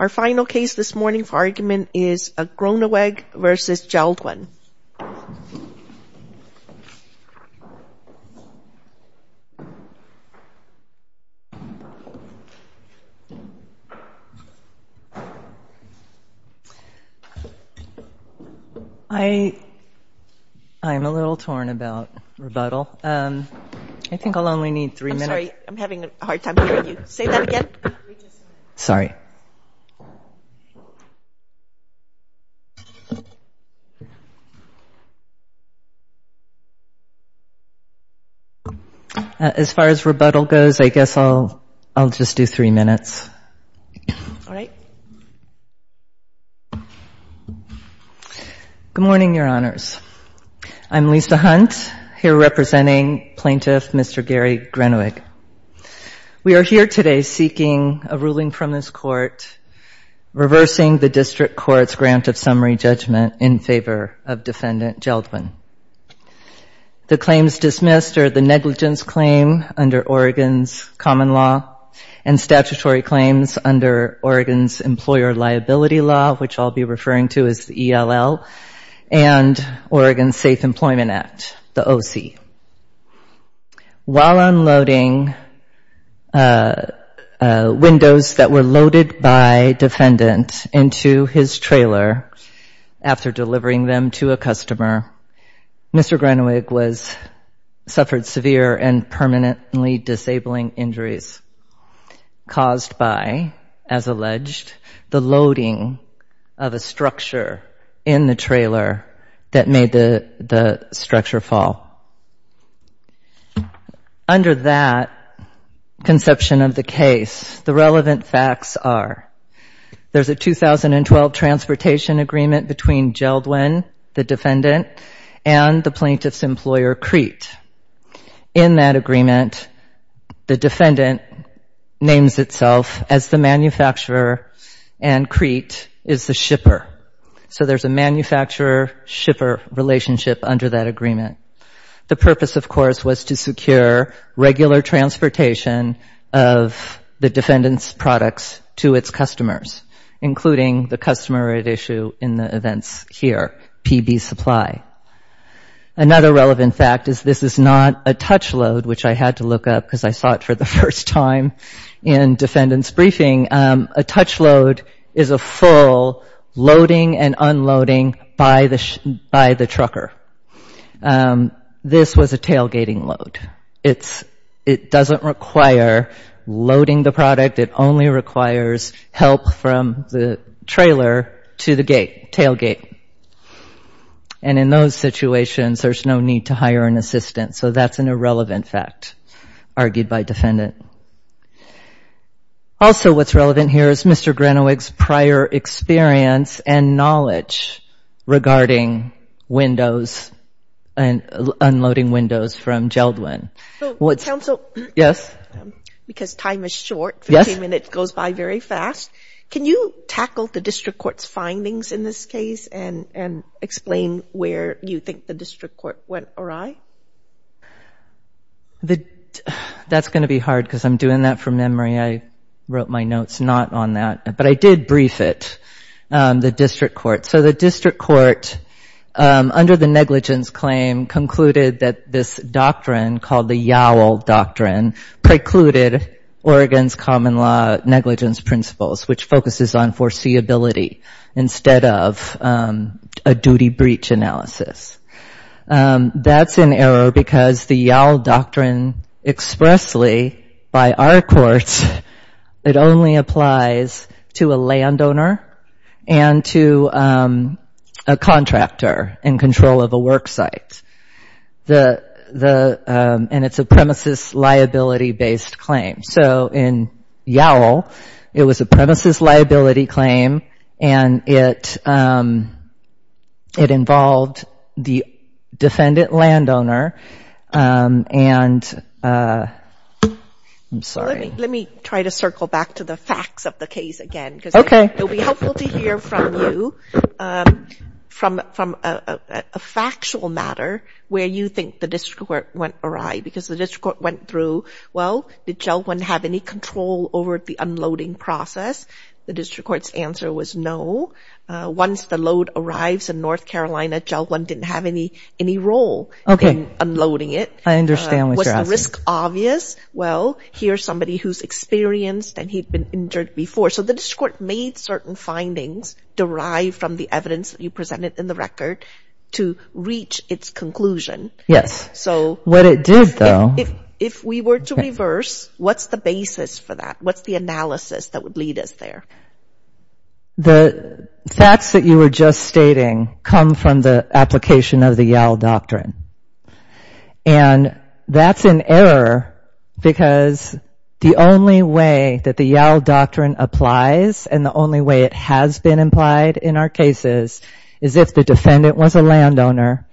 Our final case this morning for argument is Groeneweg v. Jeld-Wen. I'm a little torn about rebuttal. I think I'll only need three minutes. I'm sorry. I'm having a hard time hearing you. Say that again. Sorry. As far as rebuttal goes, I guess I'll just do three minutes. All right. Good morning, Your Honors. I'm Lisa Hunt, here representing Plaintiff Mr. Gary Groeneweg. We are here today seeking a ruling from this court reversing the district court's grant of summary judgment in favor of defendant Jeld-Wen. The claims dismissed are the negligence claim under Oregon's common law and statutory claims under Oregon's employer liability law, which I'll be referring to as ELL, and Oregon's Safe Employment Act, the OC. While unloading windows that were loaded by defendant into his trailer after delivering them to a customer, Mr. Groeneweg suffered severe and permanently disabling injuries caused by, as alleged, the loading of a structure in the building. Under that conception of the case, the relevant facts are there's a 2012 transportation agreement between Jeld-Wen, the defendant, and the plaintiff's employer, Crete. In that agreement, the defendant names itself as the manufacturer, and Crete is the shipper. So there's a manufacturer-shipper relationship under that agreement. The purpose, of course, was to secure regular transportation of the defendant's products to its customers, including the customer at issue in the events here, PB Supply. Another relevant fact is this is not a touch load, which I had to look up because I saw it for the first time in defendant's briefing. A touch load is a full loading and unloading by the trucker. This was a tailgating load. It doesn't require loading the product. It only requires help from the trailer to the gate, tailgate. And in those situations, there's no need to hire an assistant. So that's an irrelevant fact, argued by defendant. Also, what's relevant here is Mr. Grenowick's prior experience and knowledge regarding windows and unloading windows from Jeld-Wen. Yes. Can you tackle the district court's findings in this case and explain where you think the district court went awry? Because I'm doing that from memory. I wrote my notes not on that, but I did brief it, the district court. So the district court, under the negligence claim, concluded that this doctrine called the YOWL doctrine precluded Oregon's common law negligence principles, which focuses on foreseeability instead of a duty breach analysis. That's an error because the YOWL doctrine expressly, by our courts, it only applies to a landowner and to a contractor in control of a work site. And it's a premises liability based claim. So in YOWL, it was a premises liability claim, and it involved the defendant landowner, and I'm sorry. Let me try to circle back to the facts of the case again, because it'll be helpful to hear from you from a factual matter where you think the district court went awry, because the district court went through, well, did Jeld-Wen have any control over the unloading process? The district court's answer was no. Once the load arrives in North Carolina, Jeld-Wen didn't have any role in unloading it. Was the risk obvious? Well, here's somebody who's experienced, and he'd been injured before. So the district court made certain findings derived from the evidence that you presented in the record to reach its conclusion. If we were to reverse, what's the basis for that? What's the analysis that would lead us there? The facts that you were just stating come from the application of the YOWL doctrine. And that's an error, because the only way that the YOWL doctrine applies, and the only way it has been implied in our cases, is if the defendant was a landowner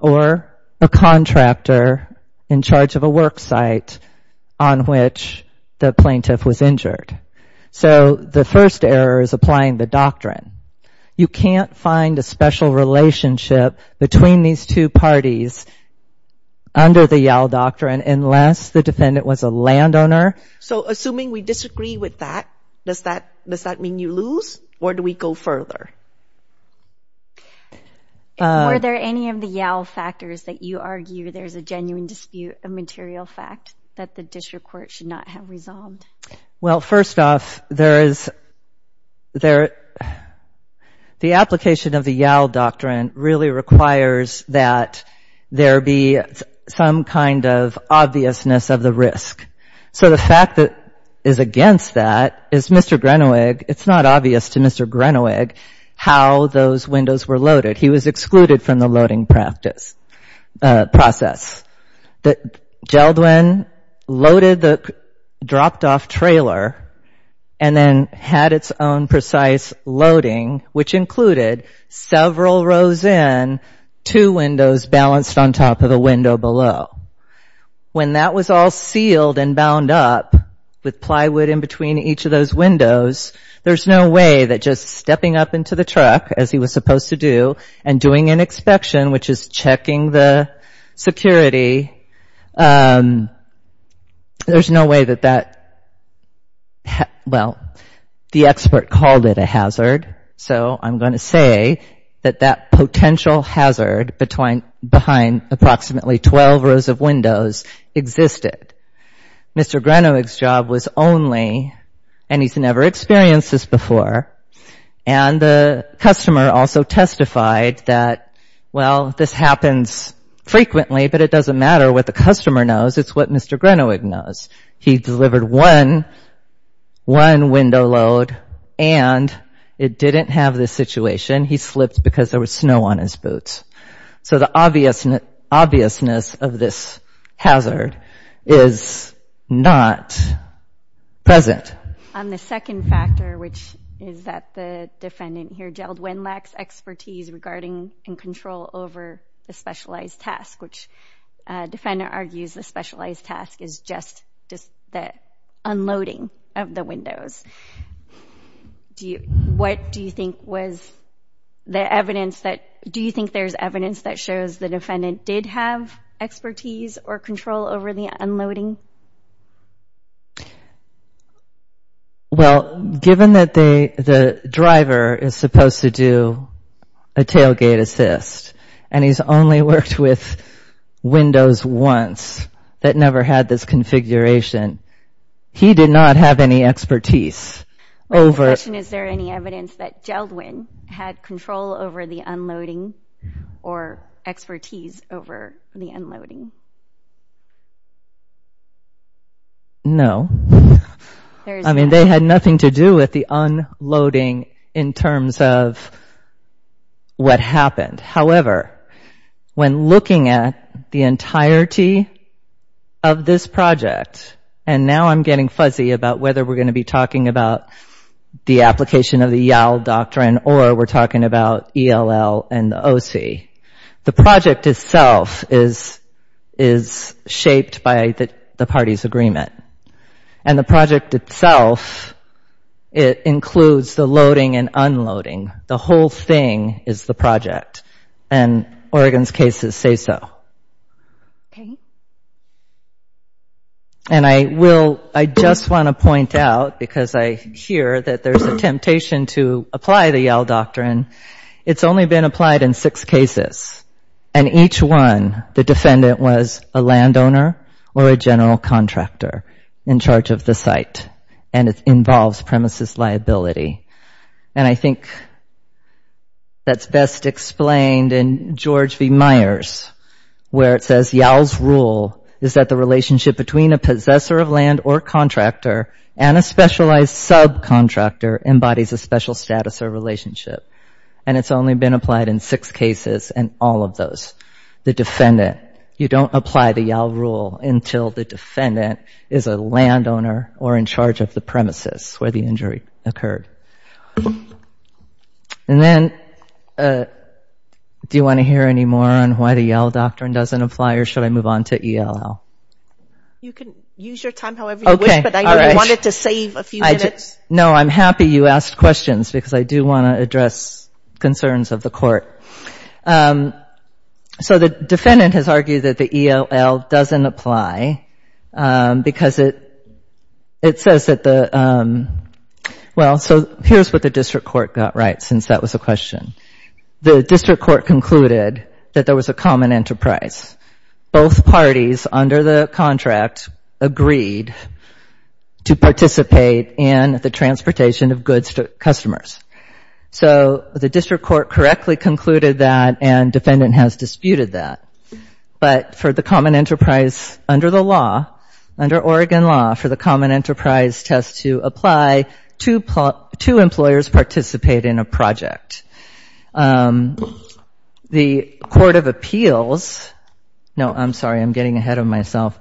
or a contractor in charge of a work site on which the plaintiff was injured. So the first error is applying the doctrine. You can't find a special relationship between these two parties under the YOWL doctrine unless the defendant was a landowner. So assuming we disagree with that, does that mean you lose, or do we go further? Were there any of the YOWL factors that you argue there's a genuine dispute of material fact that the district court should not have resolved? Well, first off, the application of the YOWL doctrine really requires that there be some kind of obviousness of the risk. So the fact that is against that is Mr. Grenowig, it's not obvious to Mr. Grenowig how those windows were loaded. He was excluded from the loading process. Geldwin loaded the dropped-off trailer and then had its own precise loading, which included several rows in, two windows balanced on top of a window below. When that was all sealed and bound up with plywood in between each of those windows, there's no way that just stepping up into the building and doing an inspection, which is checking the security, there's no way that that, well, the expert called it a hazard. So I'm going to say that that potential hazard behind approximately 12 rows of windows existed. Mr. Grenowig's job was only, and he's never experienced this before, and the customer also testified that there was no obviousness of this hazard. So the obviousness of this hazard is not present. It's just that there was no control over the loading and control over the specialized task, which the defendant argues the specialized task is just the unloading of the windows. What do you think was the evidence that, do you think there's evidence that shows the defendant did have expertise or control over the unloading? Well, given that the driver is supposed to do a tailgate assist, and he's only worked with windows once that never had this configuration, he did not have any expertise over... Is there any evidence that Geldwin had control over the unloading or expertise over the unloading? No. I mean, they had nothing to do with the unloading in terms of what happened. However, when looking at the entirety of this project, and now I'm getting fuzzy about whether we're going to be talking about the application of the YAL doctrine or we're talking about ELL and the OC, the project itself is shaped by the parties' agreement. And the project itself, it includes the loading and unloading. The whole thing is the project, and Oregon's cases say so. And I just want to point out, because I hear that there's a temptation to apply the YAL doctrine, it's only been applied in six cases, and each one the defendant was a landowner or a general contractor. In charge of the site, and it involves premises liability. And I think that's best explained in George V. Myers, where it says YAL's rule is that the relationship between a possessor of land or contractor and a specialized subcontractor embodies a special status or relationship. And it's only been applied in six cases and all of those. The defendant, you don't apply the YAL rule until the defendant is a landowner or in charge of the premises where the injury occurred. And then, do you want to hear any more on why the YAL doctrine doesn't apply or should I move on to ELL? You can use your time however you wish, but I wanted to save a few minutes. No, I'm happy you asked questions, because I do want to address concerns of the court. So the defendant has argued that the ELL doesn't apply, because it says that the, well, so here's what the district court got right, since that was the question. The district court concluded that there was a common enterprise. Both parties under the contract agreed to participate in the transportation of goods to customers. So the district court correctly concluded that and defendant has disputed that. But for the common enterprise under the law, under Oregon law, for the common enterprise test to apply, two employers participate in a project. The court of appeals, no, I'm sorry, I'm getting ahead of myself,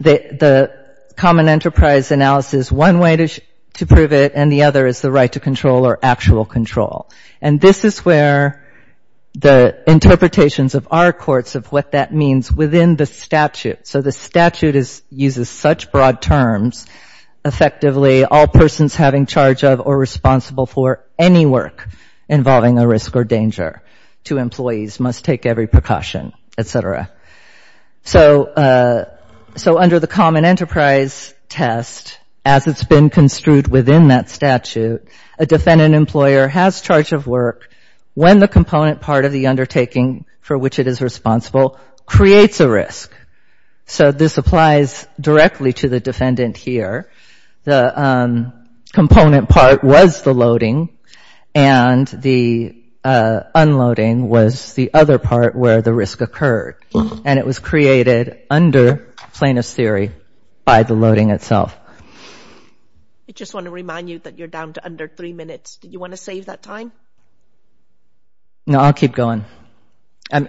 the common enterprise analysis, one way to prove it and the other is the right to control or actual control. And this is where the interpretations of our courts of what that means within the statute. So the statute uses such broad terms, effectively, all persons having charge of or responsible for any work involving a risk or danger to employees must take every precaution, et cetera. So under the common enterprise test, as it's been construed within that statute, there is a right to control. And the statute, a defendant employer has charge of work when the component part of the undertaking for which it is responsible creates a risk. So this applies directly to the defendant here. The component part was the loading and the unloading was the other part where the risk occurred. And it was created under plaintiff's theory by the loading itself. I just want to remind you that you're down to under three minutes. Did you want to save that time? No, I'll keep going. I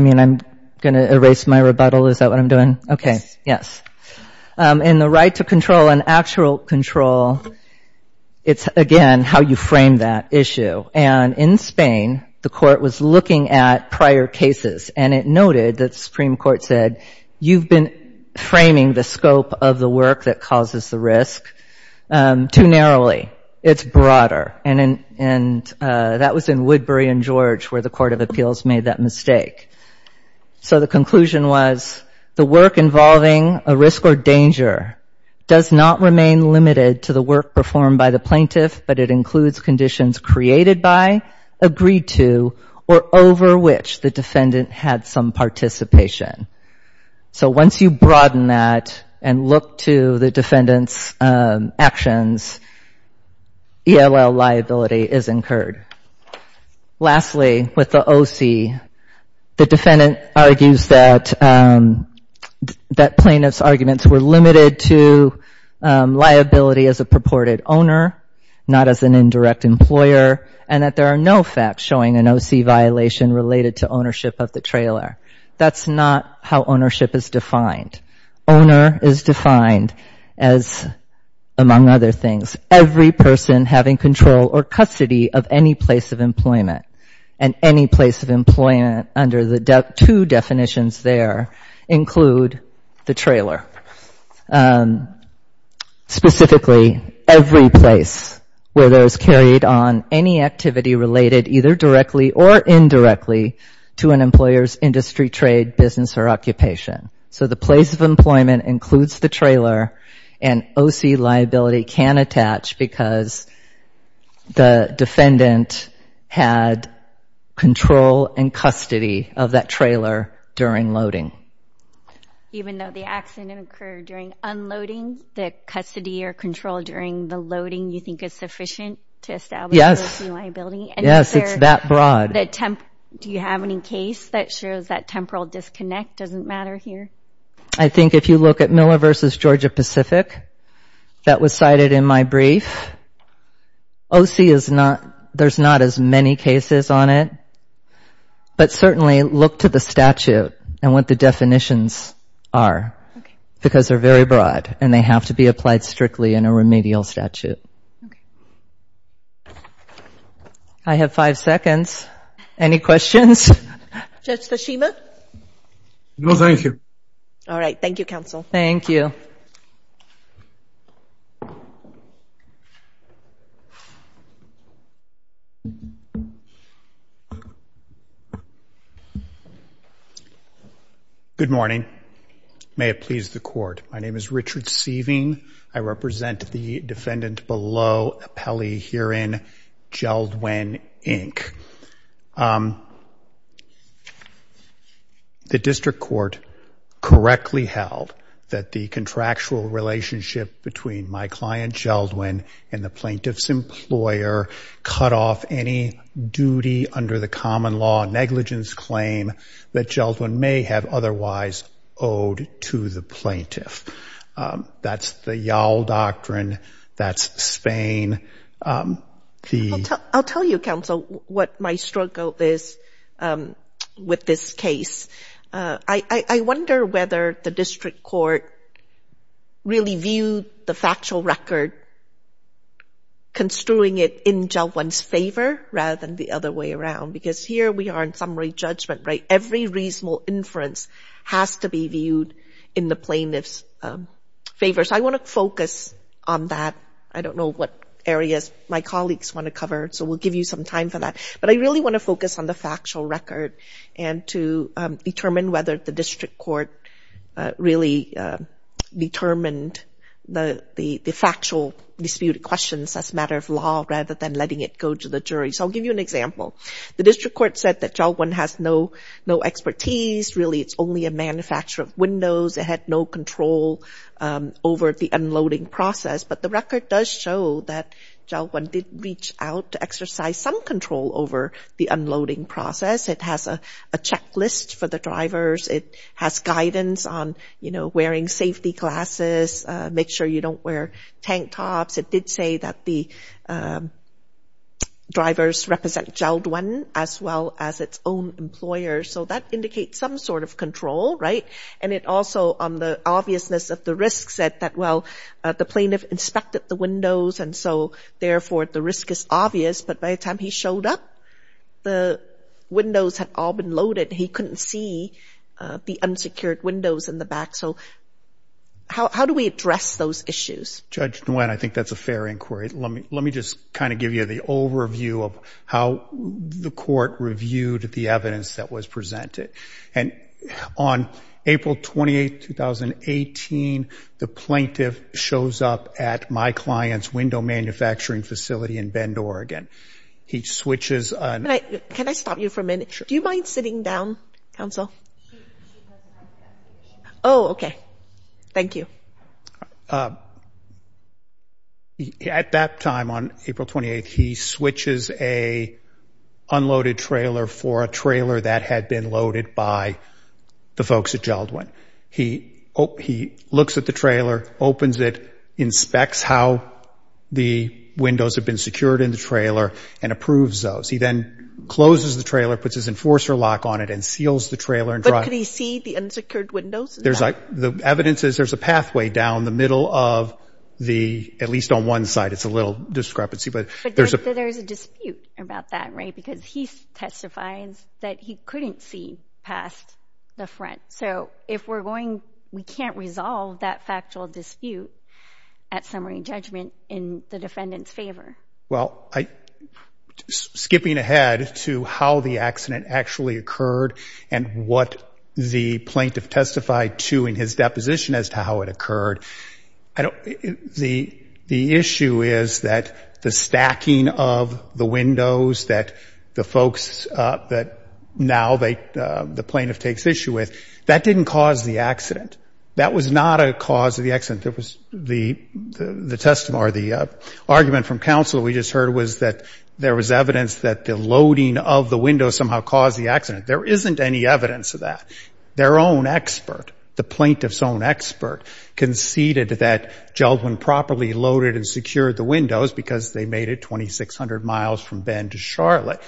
mean, I'm going to erase my rebuttal. Is that what I'm doing? Okay. Yes. And the right to control and actual control, it's, again, how you frame that issue. And in Spain, the court was looking at prior cases. And it noted that the Supreme Court said, you've been framing the scope of the work that causes that risk. Too narrowly. It's broader. And that was in Woodbury and George where the Court of Appeals made that mistake. So the conclusion was the work involving a risk or danger does not remain limited to the work performed by the plaintiff, but it includes conditions created by, agreed to, or over which the defendant had some participation. So once you broaden that and look to the defendant's actions, ELL liability is incurred. Lastly, with the OC, the defendant argues that plaintiff's arguments were limited to liability as a purported owner, not as an indirect employer, and that there are no facts showing an OC violation related to ownership of the trailer. That's not how ownership is defined. Owner is defined as, among other things, every person having control or custody of any place of employment. And any place of employment under the two definitions there include the trailer. Specifically, every place where there's carried on any activity related either directly or indirectly to an employer's industry, trade, business, or occupation. So the place of employment includes the trailer, and OC liability can attach because the defendant had control and custody of that trailer during loading. Even though the accident occurred during unloading, the custody or control during the loading you think is sufficient to establish OC liability? I think if you look at Miller v. Georgia Pacific, that was cited in my brief, OC is not, there's not as many cases on it, but certainly look to the statute and what the definitions are, because they're very broad and they have to be applied strictly in a remedial statute. I have five seconds. Any questions? Judge Tashima? No, thank you. Good morning. May it please the Court. My name is Richard Seiving. I represent the defendant, Belinda Seiving. I'm the plaintiff's lawyer. I'm the plaintiff's attorney. I'm the plaintiff's lawyer. I'm the plaintiff's attorney. The District Court correctly held that the contractual relationship between my client, Geldwin, and the plaintiff's employer cut off any duty under the common law negligence claim that Geldwin may have otherwise owed to the plaintiff. That's the YAL doctrine. That's Spain. I'll tell you, Counsel, what my struggle is with this case. I wonder whether the District Court really viewed the factual record construing it in Geldwin's favor rather than the other way around, because here we are in summary judgment, right? It has to be viewed in the plaintiff's favor. So I want to focus on that. I don't know what areas my colleagues want to cover, so we'll give you some time for that. But I really want to focus on the factual record and to determine whether the District Court really determined the factual disputed questions as a matter of law rather than letting it go to the jury. So I'll give you an example. The District Court said that Geldwin has no expertise. Really, it's only a manufacturer of windows. It had no control over the unloading process, but the record does show that Geldwin did reach out to exercise some control over the unloading process. It has a checklist for the drivers. It has guidance on, you know, wearing safety glasses, make sure you don't wear tank tops. It did say that the drivers represent Geldwin as well as its own employers, so that indicates some sort of control, right? And it also, on the obviousness of the risk, said that, well, the plaintiff inspected the windows, and so, therefore, the risk is obvious. But by the time he showed up, the windows had all been loaded. He couldn't see the unsecured windows in the back. So how do we address those issues? Judge Nguyen, I think that's a fair inquiry. Let me just kind of give you the overview of how the court reviewed the evidence that was presented. And on April 28, 2018, the plaintiff shows up at my client's window manufacturing facility in Bend, Oregon. He switches on... Can I stop you for a minute? Do you mind sitting down, counsel? Oh, okay. Thank you. At that time, on April 28, he switches a unloaded trailer for a trailer that had been loaded by the folks at Geldwin. He looks at the trailer, opens it, inspects how the windows have been secured in the trailer, and approves those. He then closes the trailer, puts his enforcer lock on it, and seals the trailer and drives... But could he see the unsecured windows in the back? The evidence is there's a pathway down the middle of the... At least on one side. It's a little discrepancy, but there's... But there's a dispute about that, right? Because he testifies that he couldn't see past the front. So if we're going... We can't resolve that factual dispute at summary judgment in the defendant's favor. Well, skipping ahead to how the accident actually occurred and what the plaintiff testified to in his deposition as to how it occurred, the issue is that the stacking of the windows that the folks that now the plaintiff takes issue with, that didn't cause the accident. That was not a cause of the accident. The counsel we just heard was that there was evidence that the loading of the windows somehow caused the accident. There isn't any evidence of that. Their own expert, the plaintiff's own expert, conceded that Jeldwin properly loaded and secured the windows because they made it 2,600 miles from Bend to Charlotte.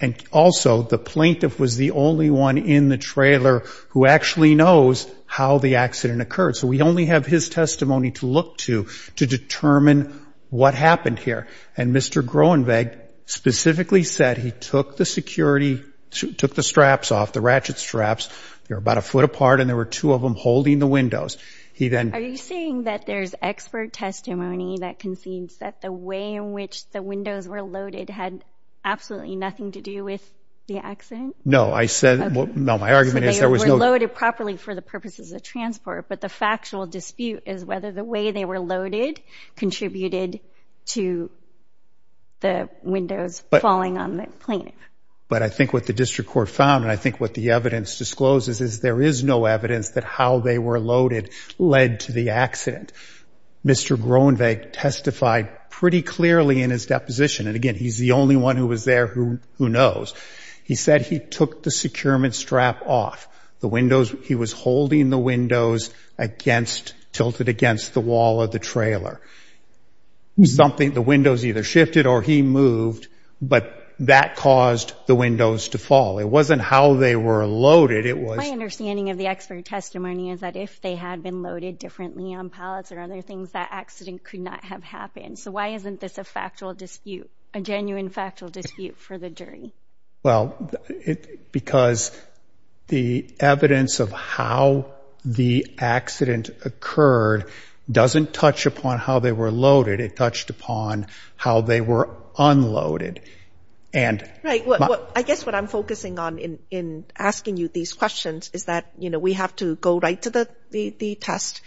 And also, the plaintiff was the only one in the trailer who actually knows how the accident occurred. So we only have his testimony to look to to determine what happened here. And Mr. Groenweg specifically said he took the security... Took the straps off, the ratchet straps. They were about a foot apart, and there were two of them holding the windows. Are you saying that there's expert testimony that concedes that the way in which the windows were loaded had absolutely nothing to do with the accident? No, I said... No, my argument is there was no... The actual dispute is whether the way they were loaded contributed to the windows falling on the plaintiff. But I think what the district court found, and I think what the evidence discloses, is there is no evidence that how they were loaded led to the accident. Mr. Groenweg testified pretty clearly in his deposition, and again, he's the only one who was there who knows. He said he took the securement strap off the windows. He tilted it against the wall of the trailer. The windows either shifted or he moved, but that caused the windows to fall. It wasn't how they were loaded, it was... My understanding of the expert testimony is that if they had been loaded differently on pallets or other things, that accident could not have happened. So why isn't this a factual dispute, a genuine factual dispute for the jury? Well, because the evidence of how the accident occurred doesn't touch upon how they were loaded. It touched upon how they were unloaded. I guess what I'm focusing on in asking you these questions is that we have to go right to the test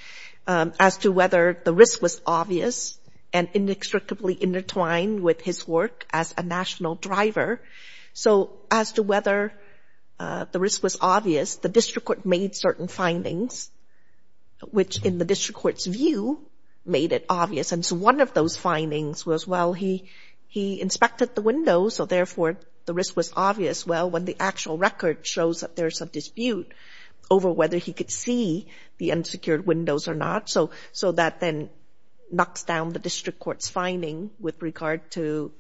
as to whether the risk was obvious and inextricably intertwined with his work as a national driver. So as to whether the risk was obvious, the district court made certain findings, which in the district court's view made it obvious. And so one of those findings was, well, he inspected the windows, so therefore the risk was obvious. Well, when the actual record shows that there's a dispute over whether he could see the unsecured windows or not, so that then knocks down the district court's finding with regard to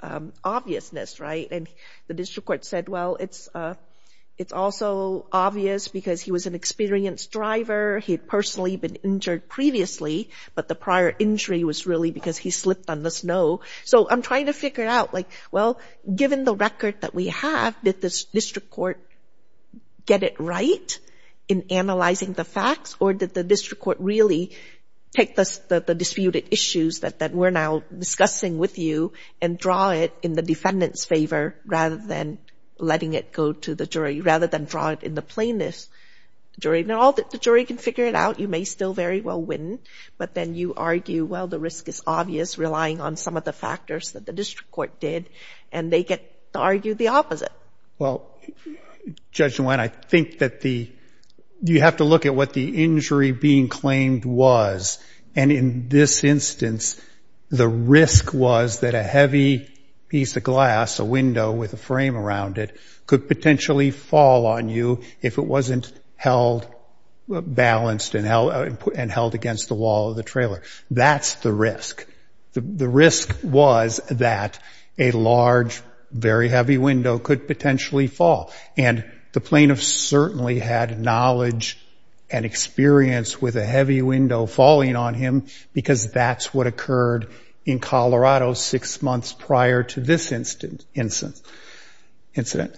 obviousness, right? And the district court said, well, it's also obvious because he was an experienced driver. He had personally been injured previously, but the prior injury was really because he slipped on the snow. So I'm trying to figure out, like, well, given the record that we have, did the district court get it right in analyzing the facts? Or did the district court really take the disputed issues that we're now discussing with you and draw it in the defendant's favor, rather than letting it go to the jury, rather than draw it in the plaintiff's jury? Now, the jury can figure it out. You may still very well win, but then you argue, well, the risk is obvious, relying on some of the factors that the district court did, and they get to argue the opposite. Well, Judge Nguyen, I think that you have to look at what the injury being claimed was. And in this instance, the risk was that a heavy piece of glass, a window, was in there. A window with a frame around it could potentially fall on you if it wasn't held balanced and held against the wall of the trailer. That's the risk. The risk was that a large, very heavy window could potentially fall. And the plaintiff certainly had knowledge and experience with a heavy window falling on him, because that's what occurred in Colorado six months prior to this instance. Incident.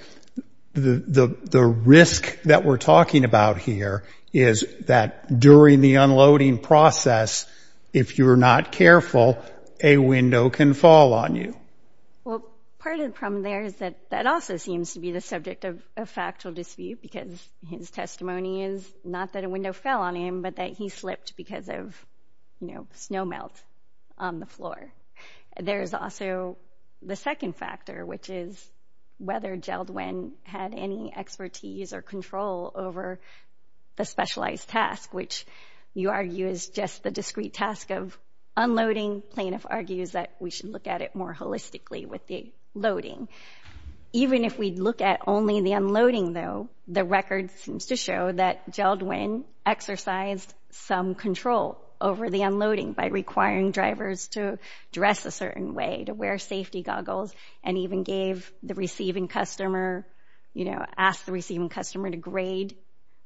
The risk that we're talking about here is that during the unloading process, if you're not careful, a window can fall on you. Well, part of the problem there is that that also seems to be the subject of factual dispute, because his testimony is not that a window fell on him, but that he slipped because of snow melt on the floor. There's also the second factor, which is whether Jeldwyn had any expertise or control over the specialized task, which you argue is just the discrete task of unloading. Plaintiff argues that we should look at it more holistically with the loading. Even if we look at only the unloading, though, the record seems to show that Jeldwyn exercised some control over the unloading by requiring drivers to dress a certain way, to wear safety goggles, and even asked the receiving customer to grade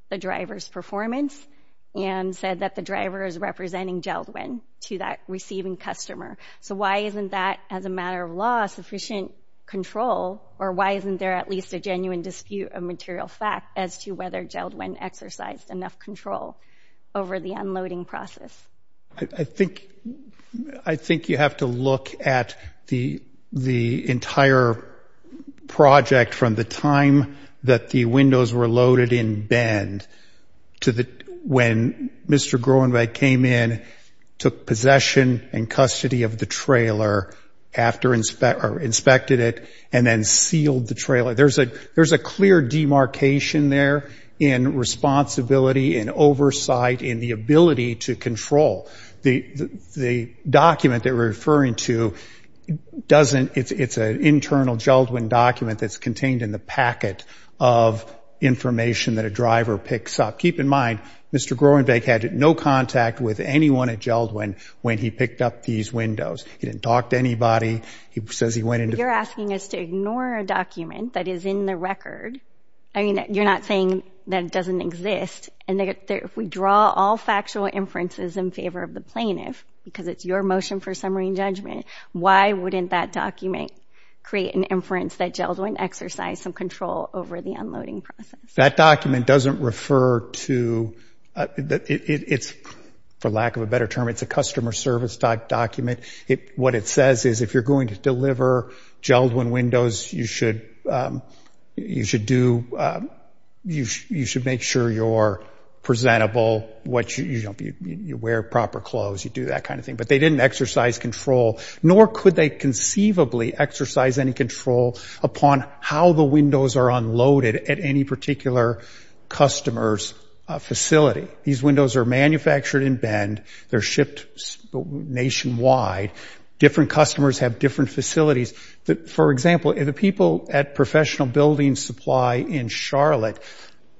the driver's performance and said that the driver is representing Jeldwyn to that receiving customer. So why isn't that, as a matter of law, sufficient control, or why isn't there at least a genuine dispute of material fact as to whether Jeldwyn exercised enough control over the unloading process? I think you have to look at the entire project from the time that the windows were loaded in Bend to when Mr. Groenweg came in, took possession and custody of the trailer, inspected it, and then sealed the trailer. There's a clear demarcation there in responsibility, in oversight, in the ability to control. The document that we're referring to doesn't, it's an internal Jeldwyn document that's contained in the packet of information that a driver picks up. Keep in mind, Mr. Groenweg had no contact with anyone at Jeldwyn when he picked up these windows. He didn't talk to anybody. He says he went into... You're asking us to ignore a document that is in the record. I mean, you're not saying that it doesn't exist. And if we draw all factual inferences in favor of the plaintiff, because it's your motion for summary and judgment, why wouldn't that document create an inference that Jeldwyn exercised some control over the unloading process? That document doesn't refer to, it's, for lack of a better term, it's a customer service document. What it says is if you're going to deliver Jeldwyn windows, you should do, you should make sure you're presentable, you wear proper clothes, you do that kind of thing. But they didn't exercise control, nor could they conceivably exercise any control upon how the windows are unloaded at any particular customer's facility. These windows are manufactured in Bend. They're shipped nationwide. Different customers have different facilities. In Charlotte,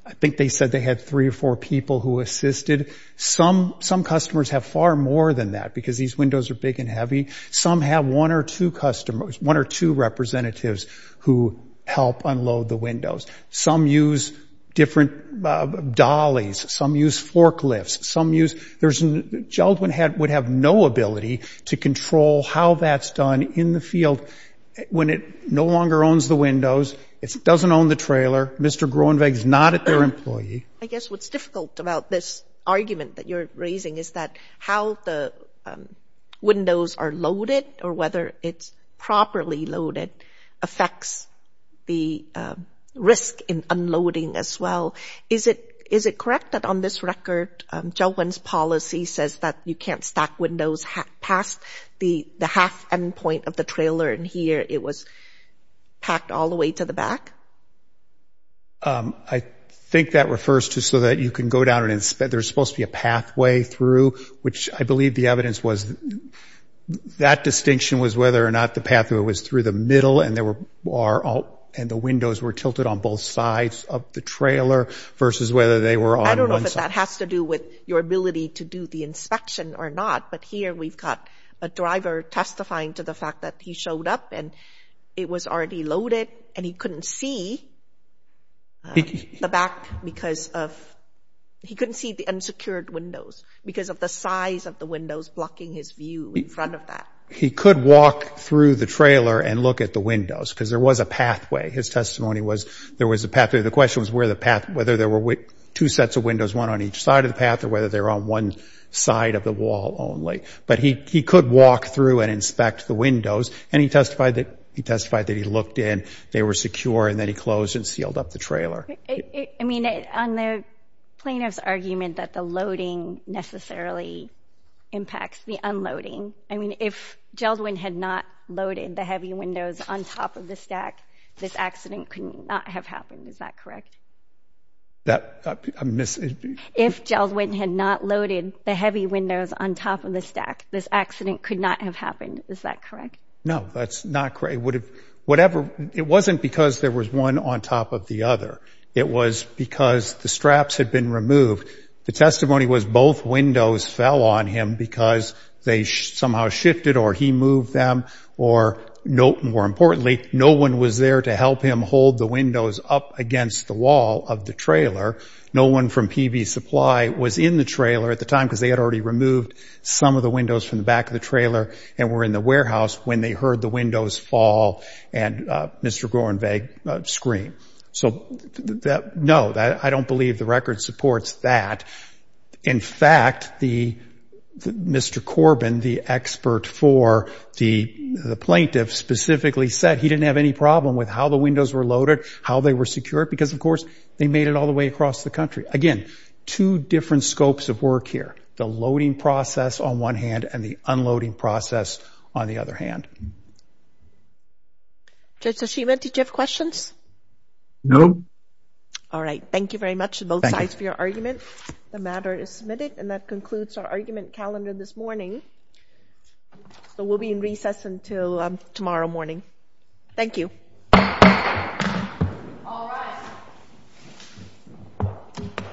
I think they said they had three or four people who assisted. Some customers have far more than that, because these windows are big and heavy. Some have one or two representatives who help unload the windows. Some use different dollies. Some use forklifts. Jeldwyn would have no ability to control how that's done in the field when it no longer owns the windows. It doesn't own the trailer. Mr. Groenweg's not at their employee. I guess what's difficult about this argument that you're raising is that how the windows are loaded or whether it's properly loaded affects the risk in unloading as well. Is it correct that on this record, Jeldwyn's policy says that you can't stack windows past the half end point of the trailer, and here it was packed all the way to the back? I think that refers to so that you can go down and inspect. There's supposed to be a pathway through, which I believe the evidence was that distinction was whether or not the pathway was through the middle and the windows were tilted on both sides of the trailer versus whether they were on one side. But that has to do with your ability to do the inspection or not. But here we've got a driver testifying to the fact that he showed up and it was already loaded and he couldn't see the back because of he couldn't see the unsecured windows because of the size of the windows blocking his view in front of that. He could walk through the trailer and look at the windows because there was a pathway. His testimony was there was a pathway, the question was whether there were two sets of windows, one on each side of the pathway or whether they were on one side of the wall only. But he could walk through and inspect the windows and he testified that he looked in, they were secure, and then he closed and sealed up the trailer. I mean, on the plaintiff's argument that the loading necessarily impacts the unloading, I mean, if Geldwin had not loaded the heavy windows on top of the stack, this accident could not have happened, is that correct? If Geldwin had not loaded the heavy windows on top of the stack, this accident could not have happened, is that correct? No, that's not correct. It wasn't because there was one on top of the other. It was because the straps had been removed. The testimony was both windows fell on him because they somehow shifted or he moved them or, more importantly, no one was there to help him hold the windows up against the wall of the trailer. No one from PV Supply was in the trailer at the time because they had already removed some of the windows from the back of the trailer and were in the warehouse when they heard the windows fall and Mr. Gorenweg scream. So, no, I don't believe the record supports that. In fact, Mr. Corbin, the expert for the plaintiff, specifically said he didn't have any problem with how the windows were loaded, how they were secured, because, of course, they made it all the way across the country. Again, two different scopes of work here, the loading process on one hand and the unloading process on the other hand. Judge Toshiba, did you have questions? No. All right. Thank you very much to both sides for your argument. Thank you. The matter is submitted and that concludes our argument calendar this morning. So we'll be in recess until tomorrow morning. Thank you. All rise.